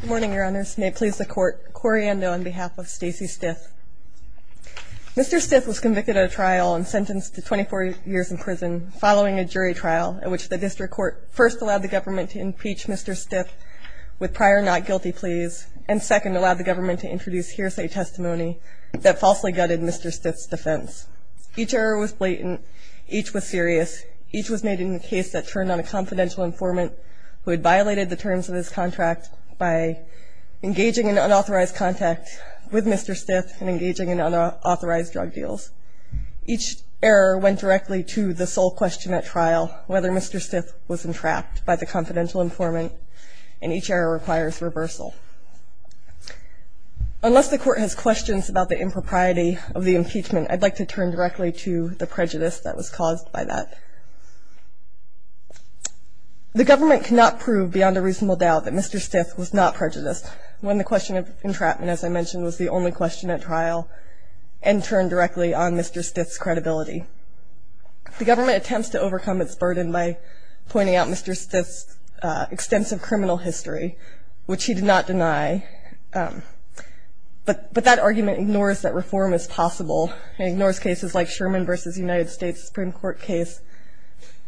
Good morning, your honors. May it please the court, Cori Ando on behalf of Stacy Stith. Mr. Stith was convicted at a trial and sentenced to 24 years in prison following a jury trial in which the district court first allowed the government to impeach Mr. Stith with prior not guilty pleas, and second allowed the government to introduce hearsay testimony that falsely gutted Mr. Stith's defense. Each error was blatant, each was serious, each was made in a case that turned on a confidential informant who had violated the terms of his contract by engaging in unauthorized contact with Mr. Stith and engaging in unauthorized drug deals. Each error went directly to the sole question at trial, whether Mr. Stith was entrapped by the confidential informant, and each error requires reversal. Unless the court has questions about the impropriety of the impeachment, I'd like to turn directly to the prejudice that was caused by that. The government cannot prove beyond a reasonable doubt that Mr. Stith was not prejudiced when the question of entrapment, as I mentioned, was the only question at trial and turned directly on Mr. Stith's credibility. The government attempts to overcome its burden by pointing out Mr. Stith's extensive criminal history, which he did not deny, but that argument ignores that reform is possible and ignores cases like Sherman v. United States Supreme Court case,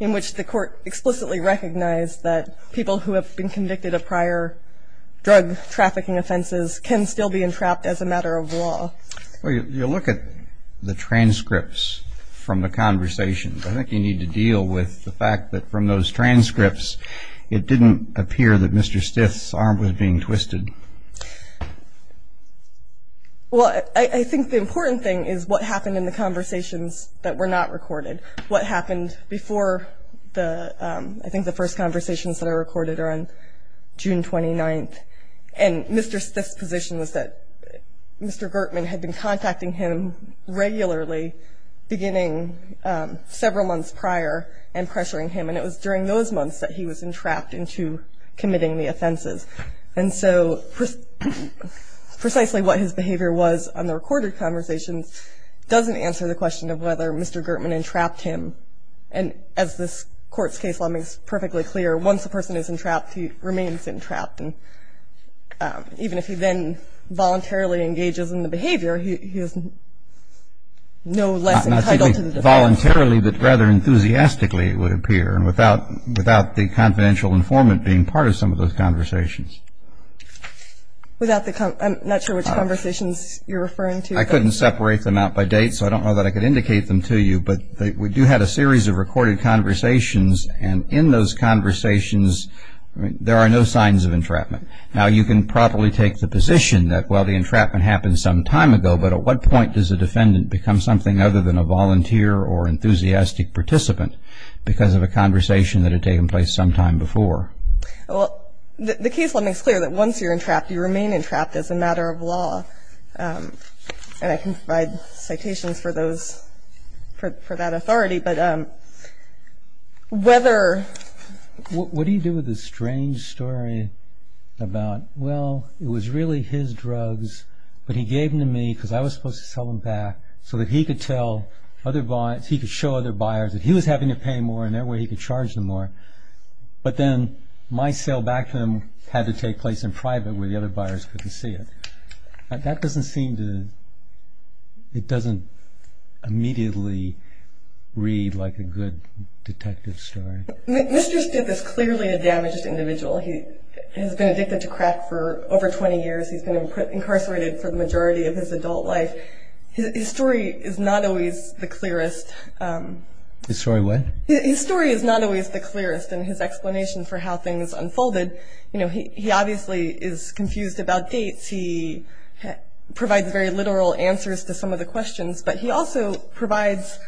in which the court explicitly recognized that people who have been convicted of prior drug trafficking offenses can still be entrapped as a matter of law. Well, you look at the transcripts from the conversations. I think you need to deal with the fact that from those transcripts, it didn't appear that Mr. Stith's arm was being twisted. Well, I think the important thing is what happened in the conversations that were not recorded. What happened before the – I think the first conversations that are recorded are on June 29th. And Mr. Stith's position was that Mr. Gertman had been contacting him regularly, beginning several months prior, and pressuring him. And it was during those months that he was entrapped into committing the offenses. And so precisely what his behavior was on the recorded conversations doesn't answer the question of whether Mr. Gertman entrapped him. And as this Court's case law makes perfectly clear, once a person is entrapped, he remains entrapped. And even if he then voluntarily engages in the behavior, he is no less entitled to the defense. Not simply voluntarily, but rather enthusiastically, it would appear, without the confidential informant being part of some of those conversations. I'm not sure which conversations you're referring to. I couldn't separate them out by date, so I don't know that I could indicate them to you. But we do have a series of recorded conversations, and in those conversations there are no signs of entrapment. Now, you can probably take the position that, well, the entrapment happened some time ago, but at what point does a defendant become something other than a volunteer or enthusiastic participant because of a conversation that had taken place some time before? Well, the case law makes clear that once you're entrapped, you remain entrapped as a matter of law. And I can provide citations for those, for that authority. But whether... What do you do with this strange story about, well, it was really his drugs, but he gave them to me because I was supposed to sell them back, so that he could show other buyers that he was having to pay more, and that way he could charge them more. But then my sale back to them had to take place in private where the other buyers couldn't see it. That doesn't seem to... It doesn't immediately read like a good detective story. Mr. Stiff is clearly a damaged individual. He has been addicted to crack for over 20 years. He's been incarcerated for the majority of his adult life. But his story is not always the clearest. His story what? His story is not always the clearest in his explanation for how things unfolded. You know, he obviously is confused about dates. He provides very literal answers to some of the questions, but he also provides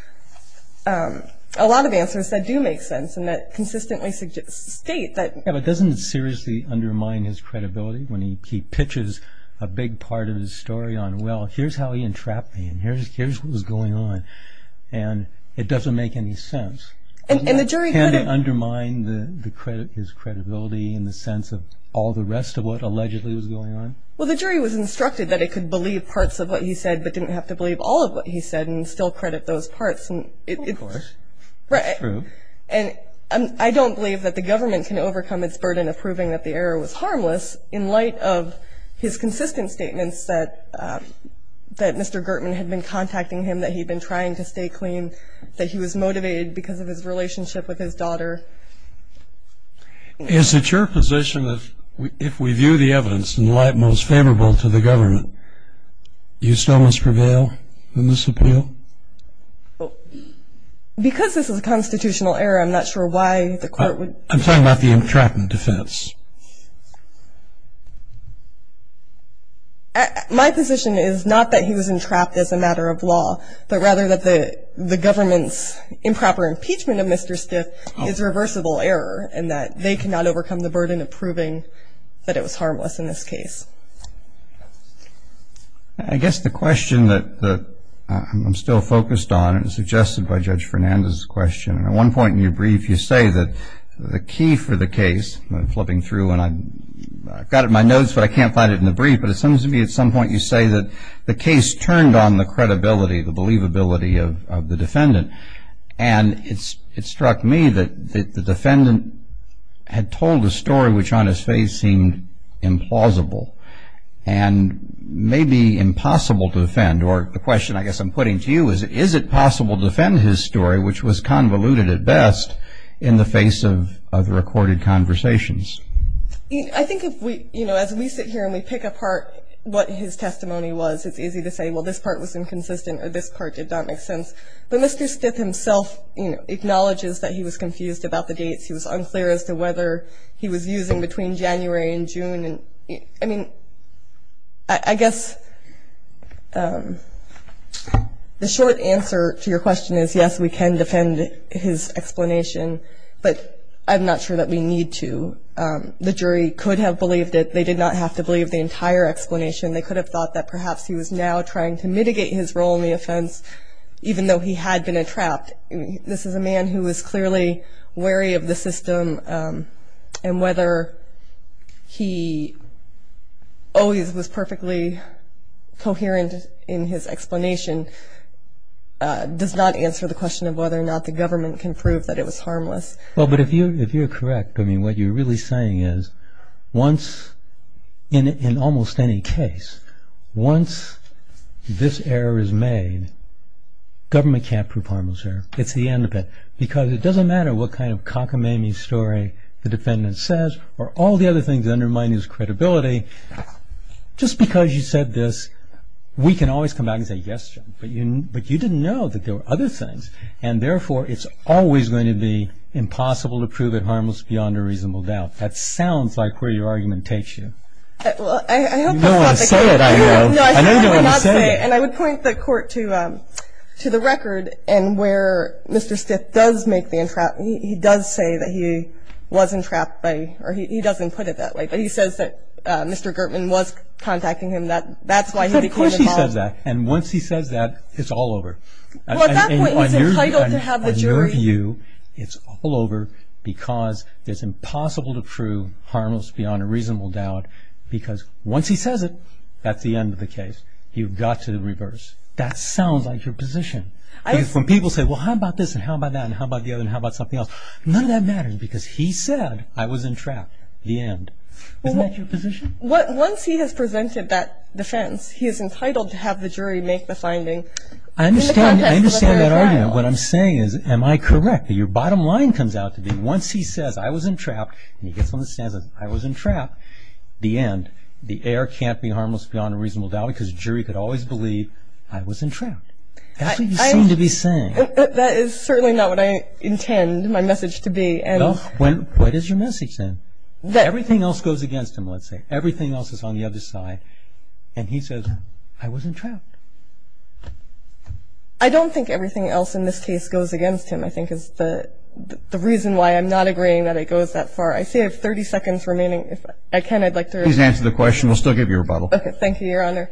a lot of answers that do make sense and that consistently state that... Yeah, but doesn't it seriously undermine his credibility when he pitches a big part of his story on, well, here's how he entrapped me and here's what was going on, and it doesn't make any sense? And the jury couldn't... Can't it undermine his credibility in the sense of all the rest of what allegedly was going on? Well, the jury was instructed that it could believe parts of what he said but didn't have to believe all of what he said and still credit those parts. Of course. Right. That's true. And I don't believe that the government can overcome its burden of proving that the error was harmless in light of his consistent statements that Mr. Gertman had been contacting him, that he'd been trying to stay clean, that he was motivated because of his relationship with his daughter. Is it your position that if we view the evidence in light most favorable to the government, you still must prevail in this appeal? Because this is a constitutional error, I'm not sure why the court would... I'm talking about the entrapment defense. My position is not that he was entrapped as a matter of law, but rather that the government's improper impeachment of Mr. Skiff is reversible error in that they cannot overcome the burden of proving that it was harmless in this case. I guess the question that I'm still focused on is suggested by Judge Fernandez's question. At one point in your brief you say that the key for the case, I'm flipping through and I've got it in my notes but I can't find it in the brief, but it seems to me at some point you say that the case turned on the credibility, the believability of the defendant. And it struck me that the defendant had told a story which on its face seemed implausible. And maybe impossible to defend. Or the question I guess I'm putting to you is, is it possible to defend his story which was convoluted at best in the face of recorded conversations? I think as we sit here and we pick apart what his testimony was, it's easy to say, well, this part was inconsistent or this part did not make sense. But Mr. Skiff himself acknowledges that he was confused about the dates. I mean, I guess the short answer to your question is, yes, we can defend his explanation. But I'm not sure that we need to. The jury could have believed it. They did not have to believe the entire explanation. They could have thought that perhaps he was now trying to mitigate his role in the offense, even though he had been entrapped. But this is a man who is clearly wary of the system. And whether he always was perfectly coherent in his explanation does not answer the question of whether or not the government can prove that it was harmless. Well, but if you're correct, I mean, what you're really saying is once, in almost any case, once this error is made, government can't prove harmless error. It's the end of it. Because it doesn't matter what kind of cockamamie story the defendant says or all the other things that undermine his credibility. Just because you said this, we can always come back and say, yes, but you didn't know that there were other things. And therefore, it's always going to be impossible to prove it harmless beyond a reasonable doubt. That sounds like where your argument takes you. Well, I hope that's not the case. You don't want to say it, I know. No, I certainly would not say it. And I would point the court to the record and where Mr. Stiff does make the entrapment. He does say that he was entrapped by, or he doesn't put it that way, but he says that Mr. Gertman was contacting him. That's why he became involved. Of course he says that. And once he says that, it's all over. Well, at that point, he's entitled to have the jury. It's all over because it's impossible to prove harmless beyond a reasonable doubt because once he says it, that's the end of the case. You've got to reverse. That sounds like your position. Because when people say, well, how about this and how about that and how about the other and how about something else, none of that matters because he said, I was entrapped, the end. Isn't that your position? Once he has presented that defense, he is entitled to have the jury make the finding in the context of a fair trial. I understand that argument. What I'm saying is, am I correct? Your bottom line comes out to be once he says, I was entrapped, and he gets on the stand and says, I was entrapped, the end. The heir can't be harmless beyond a reasonable doubt because the jury could always believe, I was entrapped. That's what you seem to be saying. That is certainly not what I intend my message to be. Well, what is your message then? Everything else goes against him, let's say. Everything else is on the other side. And he says, I was entrapped. I don't think everything else in this case goes against him, I think, is the reason why I'm not agreeing that it goes that far. I see I have 30 seconds remaining. If I can, I'd like to respond. Please answer the question. We'll still give you a rebuttal. Okay. Thank you, Your Honor.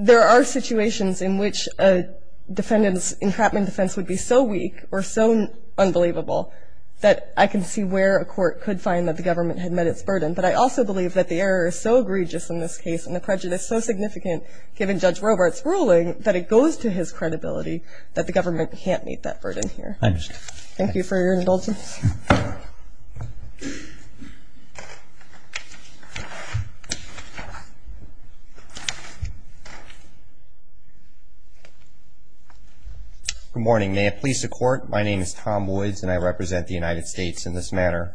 There are situations in which a defendant's entrapment defense would be so weak or so unbelievable that I can see where a court could find that the government had met its burden. But I also believe that the error is so egregious in this case and the prejudice is so significant given Judge Robart's ruling that it goes to his credibility that the government can't meet that burden here. I understand. Thank you for your indulgence. Good morning. May it please the Court, my name is Tom Woods and I represent the United States in this matter.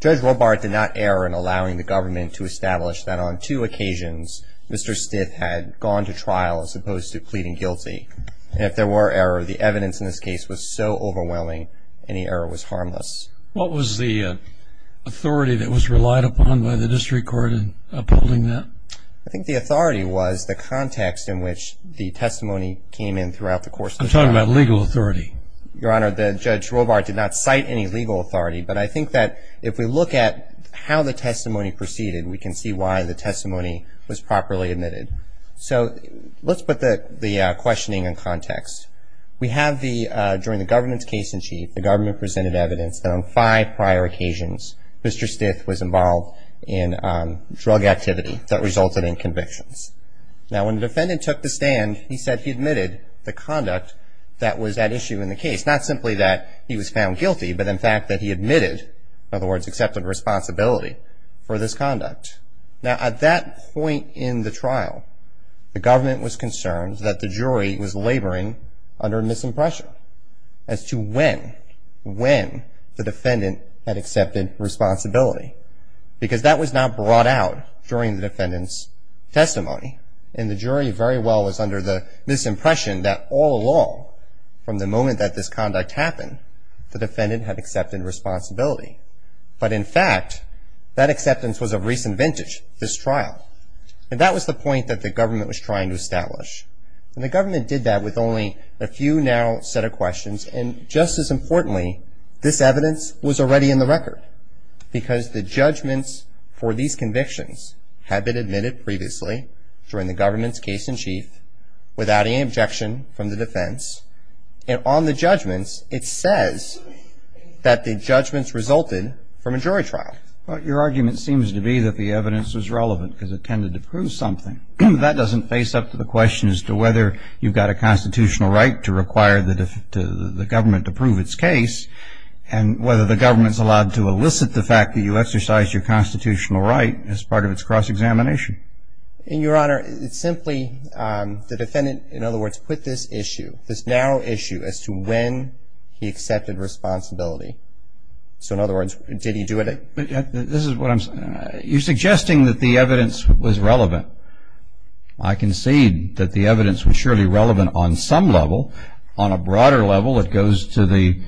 Judge Robart did not err in allowing the government to establish that on two occasions Mr. Stiff had gone to trial as opposed to pleading guilty. And if there were error, the evidence in this case was so overwhelming, any error was harmless. What was the authority that was relied upon by the district court in upholding that? I think the authority was the context in which the testimony came in throughout the course of the trial. I'm talking about legal authority. Your Honor, Judge Robart did not cite any legal authority, but I think that if we look at how the testimony proceeded, we can see why the testimony was properly admitted. So let's put the questioning in context. We have the, during the government's case in chief, the government presented evidence that on five prior occasions Mr. Stiff was involved in drug activity that resulted in convictions. Now when the defendant took the stand, he said he admitted the conduct that was at issue in the case, not simply that he was found guilty, but in fact that he admitted, in other words, accepted responsibility for this conduct. Now at that point in the trial, the government was concerned that the jury was laboring under a misimpression as to when, when the defendant had accepted responsibility. Because that was not brought out during the defendant's testimony. And the jury very well was under the misimpression that all along, from the moment that this conduct happened, the defendant had accepted responsibility. But in fact, that acceptance was of recent vintage, this trial. And that was the point that the government was trying to establish. And the government did that with only a few narrow set of questions. And just as importantly, this evidence was already in the record. Because the judgments for these convictions had been admitted previously during the government's case in chief without any objection from the defense. And on the judgments, it says that the judgments resulted from a jury trial. But your argument seems to be that the evidence was relevant, because it tended to prove something. That doesn't face up to the question as to whether you've got a constitutional right to require the government to prove its case, and whether the government's allowed to elicit the fact that you exercised your constitutional right as part of its cross-examination. In your honor, it's simply the defendant, in other words, put this issue, this narrow issue as to when he accepted responsibility. So in other words, did he do it? This is what I'm saying. You're suggesting that the evidence was relevant. I concede that the evidence was surely relevant on some level. On a broader level, it goes to the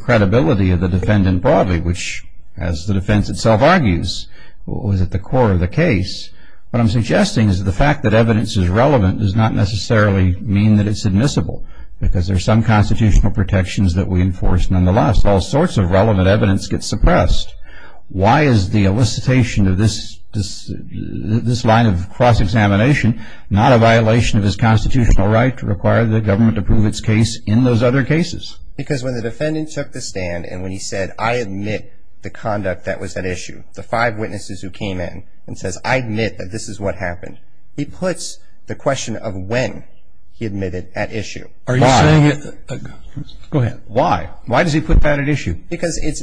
credibility of the defendant broadly, which, as the defense itself argues, was at the core of the case. What I'm suggesting is the fact that evidence is relevant does not necessarily mean that it's admissible, because there's some constitutional protections that we enforce nonetheless. All sorts of relevant evidence gets suppressed. Why is the elicitation of this line of cross-examination not a violation of his constitutional right to require the government to prove its case in those other cases? Because when the defendant took the stand and when he said, I admit the conduct that was at issue, the five witnesses who came in and says, I admit that this is what happened, he puts the question of when he admitted at issue. Why? Go ahead. Why? Why does he put that at issue? Because it's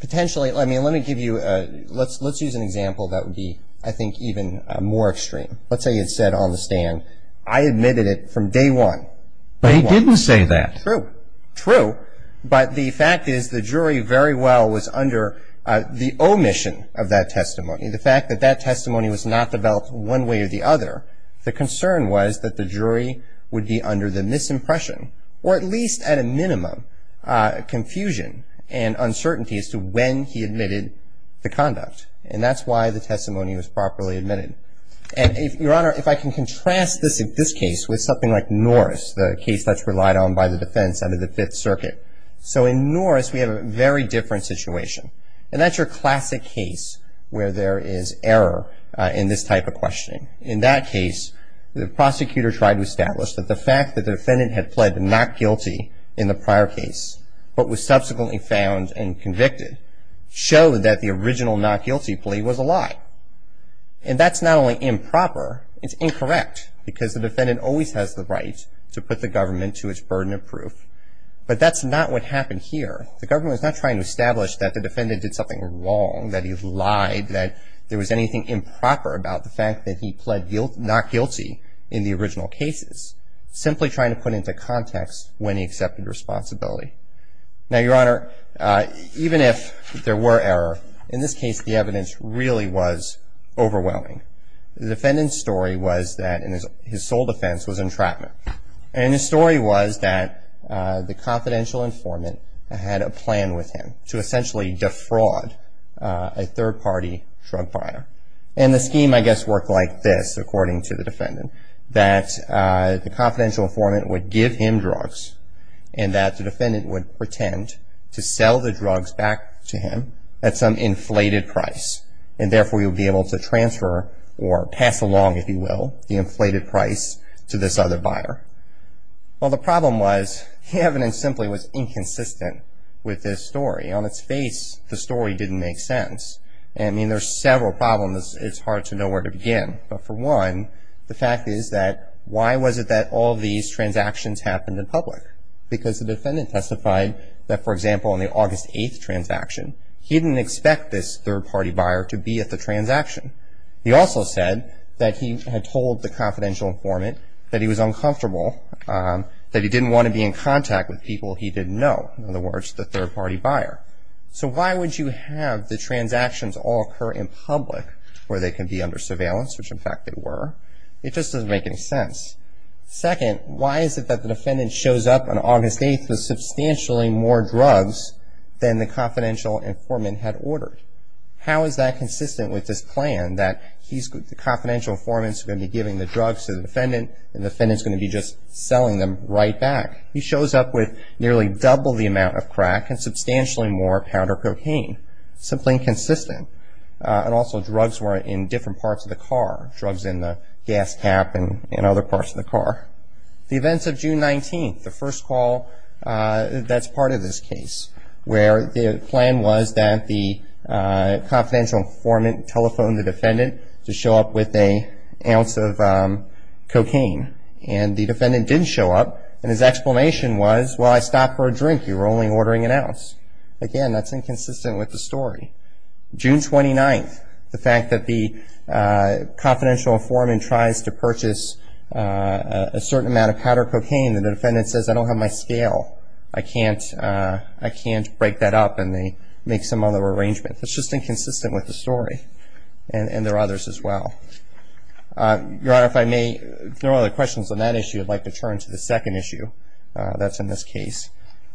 potentially, I mean, let me give you, let's use an example that would be, I think, even more extreme. Let's say he had said on the stand, I admitted it from day one. But he didn't say that. True. True. But the fact is the jury very well was under the omission of that testimony. The fact that that testimony was not developed one way or the other, the concern was that the jury would be under the misimpression, or at least at a minimum confusion and uncertainty as to when he admitted the conduct. And that's why the testimony was properly admitted. And, Your Honor, if I can contrast this case with something like Norris, the case that's relied on by the defense under the Fifth Circuit. So in Norris, we have a very different situation. And that's your classic case where there is error in this type of questioning. In that case, the prosecutor tried to establish that the fact that the defendant had pled not guilty in the prior case but was subsequently found and convicted showed that the original not guilty plea was a lie. And that's not only improper, it's incorrect, because the defendant always has the right to put the government to its burden of proof. But that's not what happened here. The government was not trying to establish that the defendant did something wrong, that he lied, that there was anything improper about the fact that he pled not guilty in the original cases. Simply trying to put into context when he accepted responsibility. Now, Your Honor, even if there were error, in this case the evidence really was overwhelming. The defendant's story was that his sole defense was entrapment. And his story was that the confidential informant had a plan with him to essentially defraud a third-party drug buyer. And the scheme, I guess, worked like this, according to the defendant, that the confidential informant would give him drugs and that the defendant would pretend to sell the drugs back to him at some inflated price. And therefore, he would be able to transfer or pass along, if you will, the inflated price to this other buyer. Well, the problem was the evidence simply was inconsistent with this story. On its face, the story didn't make sense. I mean, there's several problems. It's hard to know where to begin. But for one, the fact is that why was it that all these transactions happened in public? Because the defendant testified that, for example, on the August 8th transaction, he didn't expect this third-party buyer to be at the transaction. He also said that he had told the confidential informant that he was uncomfortable, that he didn't want to be in contact with people he didn't know. In other words, the third-party buyer. So why would you have the transactions all occur in public, where they can be under surveillance, which, in fact, they were? It just doesn't make any sense. Second, why is it that the defendant shows up on August 8th with substantially more drugs than the confidential informant had ordered? How is that consistent with this plan that the confidential informant's going to be giving the drugs to the defendant and the defendant's going to be just selling them right back? He shows up with nearly double the amount of crack and substantially more powder cocaine. Simply inconsistent. And also drugs were in different parts of the car, drugs in the gas cap and other parts of the car. The events of June 19th, the first call that's part of this case, where the plan was that the confidential informant telephoned the defendant to show up with an ounce of cocaine. And the defendant didn't show up, and his explanation was, well, I stopped for a drink, you were only ordering an ounce. Again, that's inconsistent with the story. June 29th, the fact that the confidential informant tries to purchase a certain amount of powder cocaine and the defendant says, I don't have my scale, I can't break that up, and they make some other arrangement. It's just inconsistent with the story. And there are others as well. Your Honor, if I may throw other questions on that issue, I'd like to turn to the second issue that's in this case.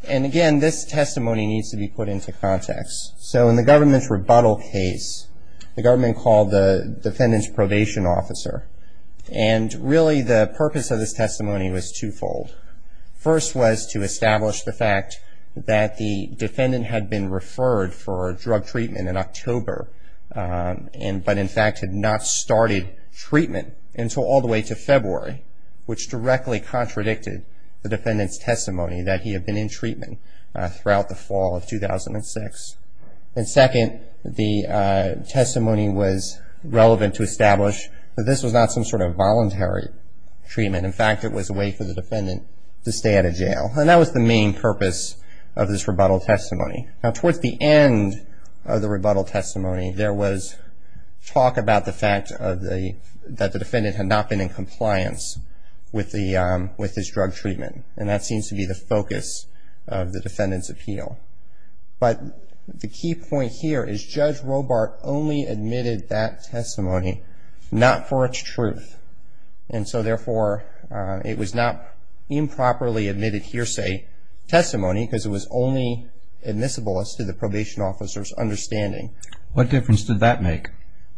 And again, this testimony needs to be put into context. So in the government's rebuttal case, the government called the defendant's probation officer. And really the purpose of this testimony was twofold. First was to establish the fact that the defendant had been referred for drug treatment in October, but in fact had not started treatment until all the way to February, which directly contradicted the defendant's testimony that he had been in treatment throughout the fall of 2006. And second, the testimony was relevant to establish that this was not some sort of voluntary treatment. In fact, it was a way for the defendant to stay out of jail. And that was the main purpose of this rebuttal testimony. Now, towards the end of the rebuttal testimony, there was talk about the fact that the defendant had not been in compliance with his drug treatment. And that seems to be the focus of the defendant's appeal. But the key point here is Judge Robart only admitted that testimony not for its truth. And so therefore, it was not improperly admitted hearsay testimony because it was only admissible as to the probation officer's understanding. What difference did that make?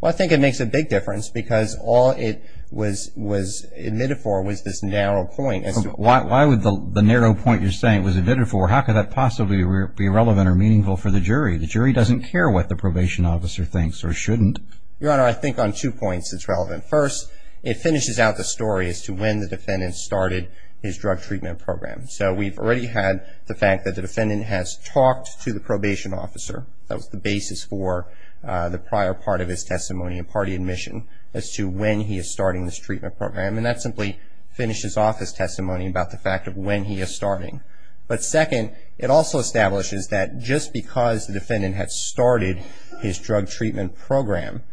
Well, I think it makes a big difference because all it was admitted for was this narrow point. Why would the narrow point you're saying was admitted for? How could that possibly be relevant or meaningful for the jury? The jury doesn't care what the probation officer thinks or shouldn't. Your Honor, I think on two points it's relevant. First, it finishes out the story as to when the defendant started his drug treatment program. So we've already had the fact that the defendant has talked to the probation officer. That was the basis for the prior part of his testimony and party admission as to when he is starting his treatment program. And that simply finishes off his testimony about the fact of when he is starting. But second, it also establishes that just because the defendant had started his drug treatment program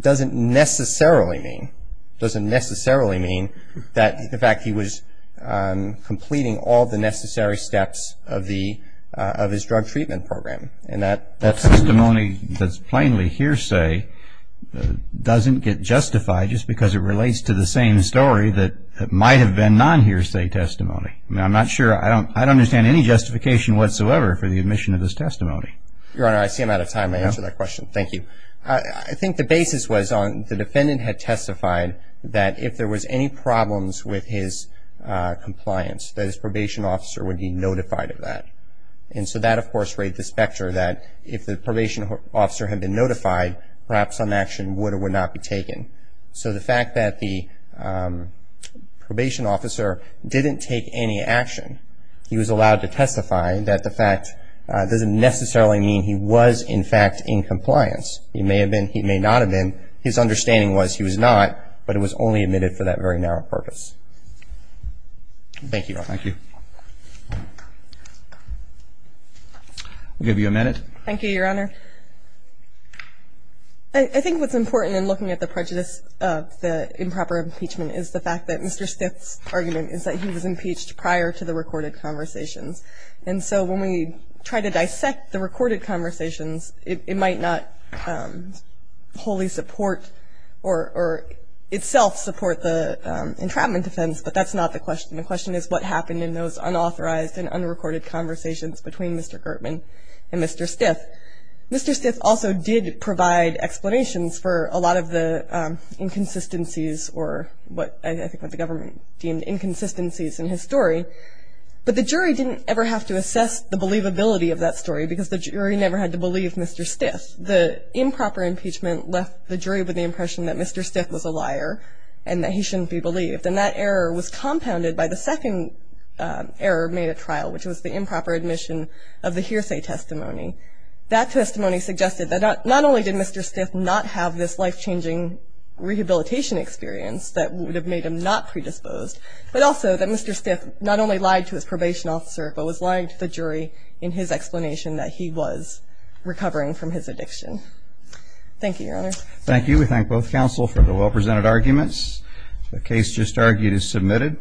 doesn't necessarily mean that, in fact, he was completing all the necessary steps of his drug treatment program. And that testimony that's plainly hearsay doesn't get justified just because it relates to the same story that might have been non-hearsay testimony. I mean, I'm not sure. I don't understand any justification whatsoever for the admission of this testimony. Your Honor, I see I'm out of time. I answered that question. Thank you. Thank you. I think the basis was the defendant had testified that if there was any problems with his compliance, that his probation officer would be notified of that. And so that, of course, raised the specter that if the probation officer had been notified, perhaps some action would or would not be taken. So the fact that the probation officer didn't take any action, he was allowed to testify, that the fact doesn't necessarily mean he was, in fact, in compliance. It may have been, he may not have been. His understanding was he was not, but it was only admitted for that very narrow purpose. Thank you, Your Honor. Thank you. I'll give you a minute. Thank you, Your Honor. I think what's important in looking at the prejudice of the improper impeachment is the fact that Mr. Gertman and Mr. Stiff did provide explanations for a lot of the recorded conversations. And so when we try to dissect the recorded conversations, it might not wholly support or itself support the entrapment defense, but that's not the question. The question is what happened in those unauthorized and unrecorded conversations between Mr. Gertman and Mr. Stiff. But Mr. Stiff also did provide explanations for a lot of the inconsistencies or what I think what the government deemed inconsistencies in his story. But the jury didn't ever have to assess the believability of that story because the jury never had to believe Mr. Stiff. The improper impeachment left the jury with the impression that Mr. Stiff was a liar and that he shouldn't be believed. And that error was compounded by the second error made at trial, which was the improper admission of the hearsay testimony. That testimony suggested that not only did Mr. Stiff not have this life-changing rehabilitation experience that would have made him not predisposed, but also that Mr. Stiff not only lied to his probation officer, but was lying to the jury in his explanation that he was recovering from his addiction. Thank you, Your Honor. Thank you. We thank both counsel for the well-presented arguments. The case just argued is submitted.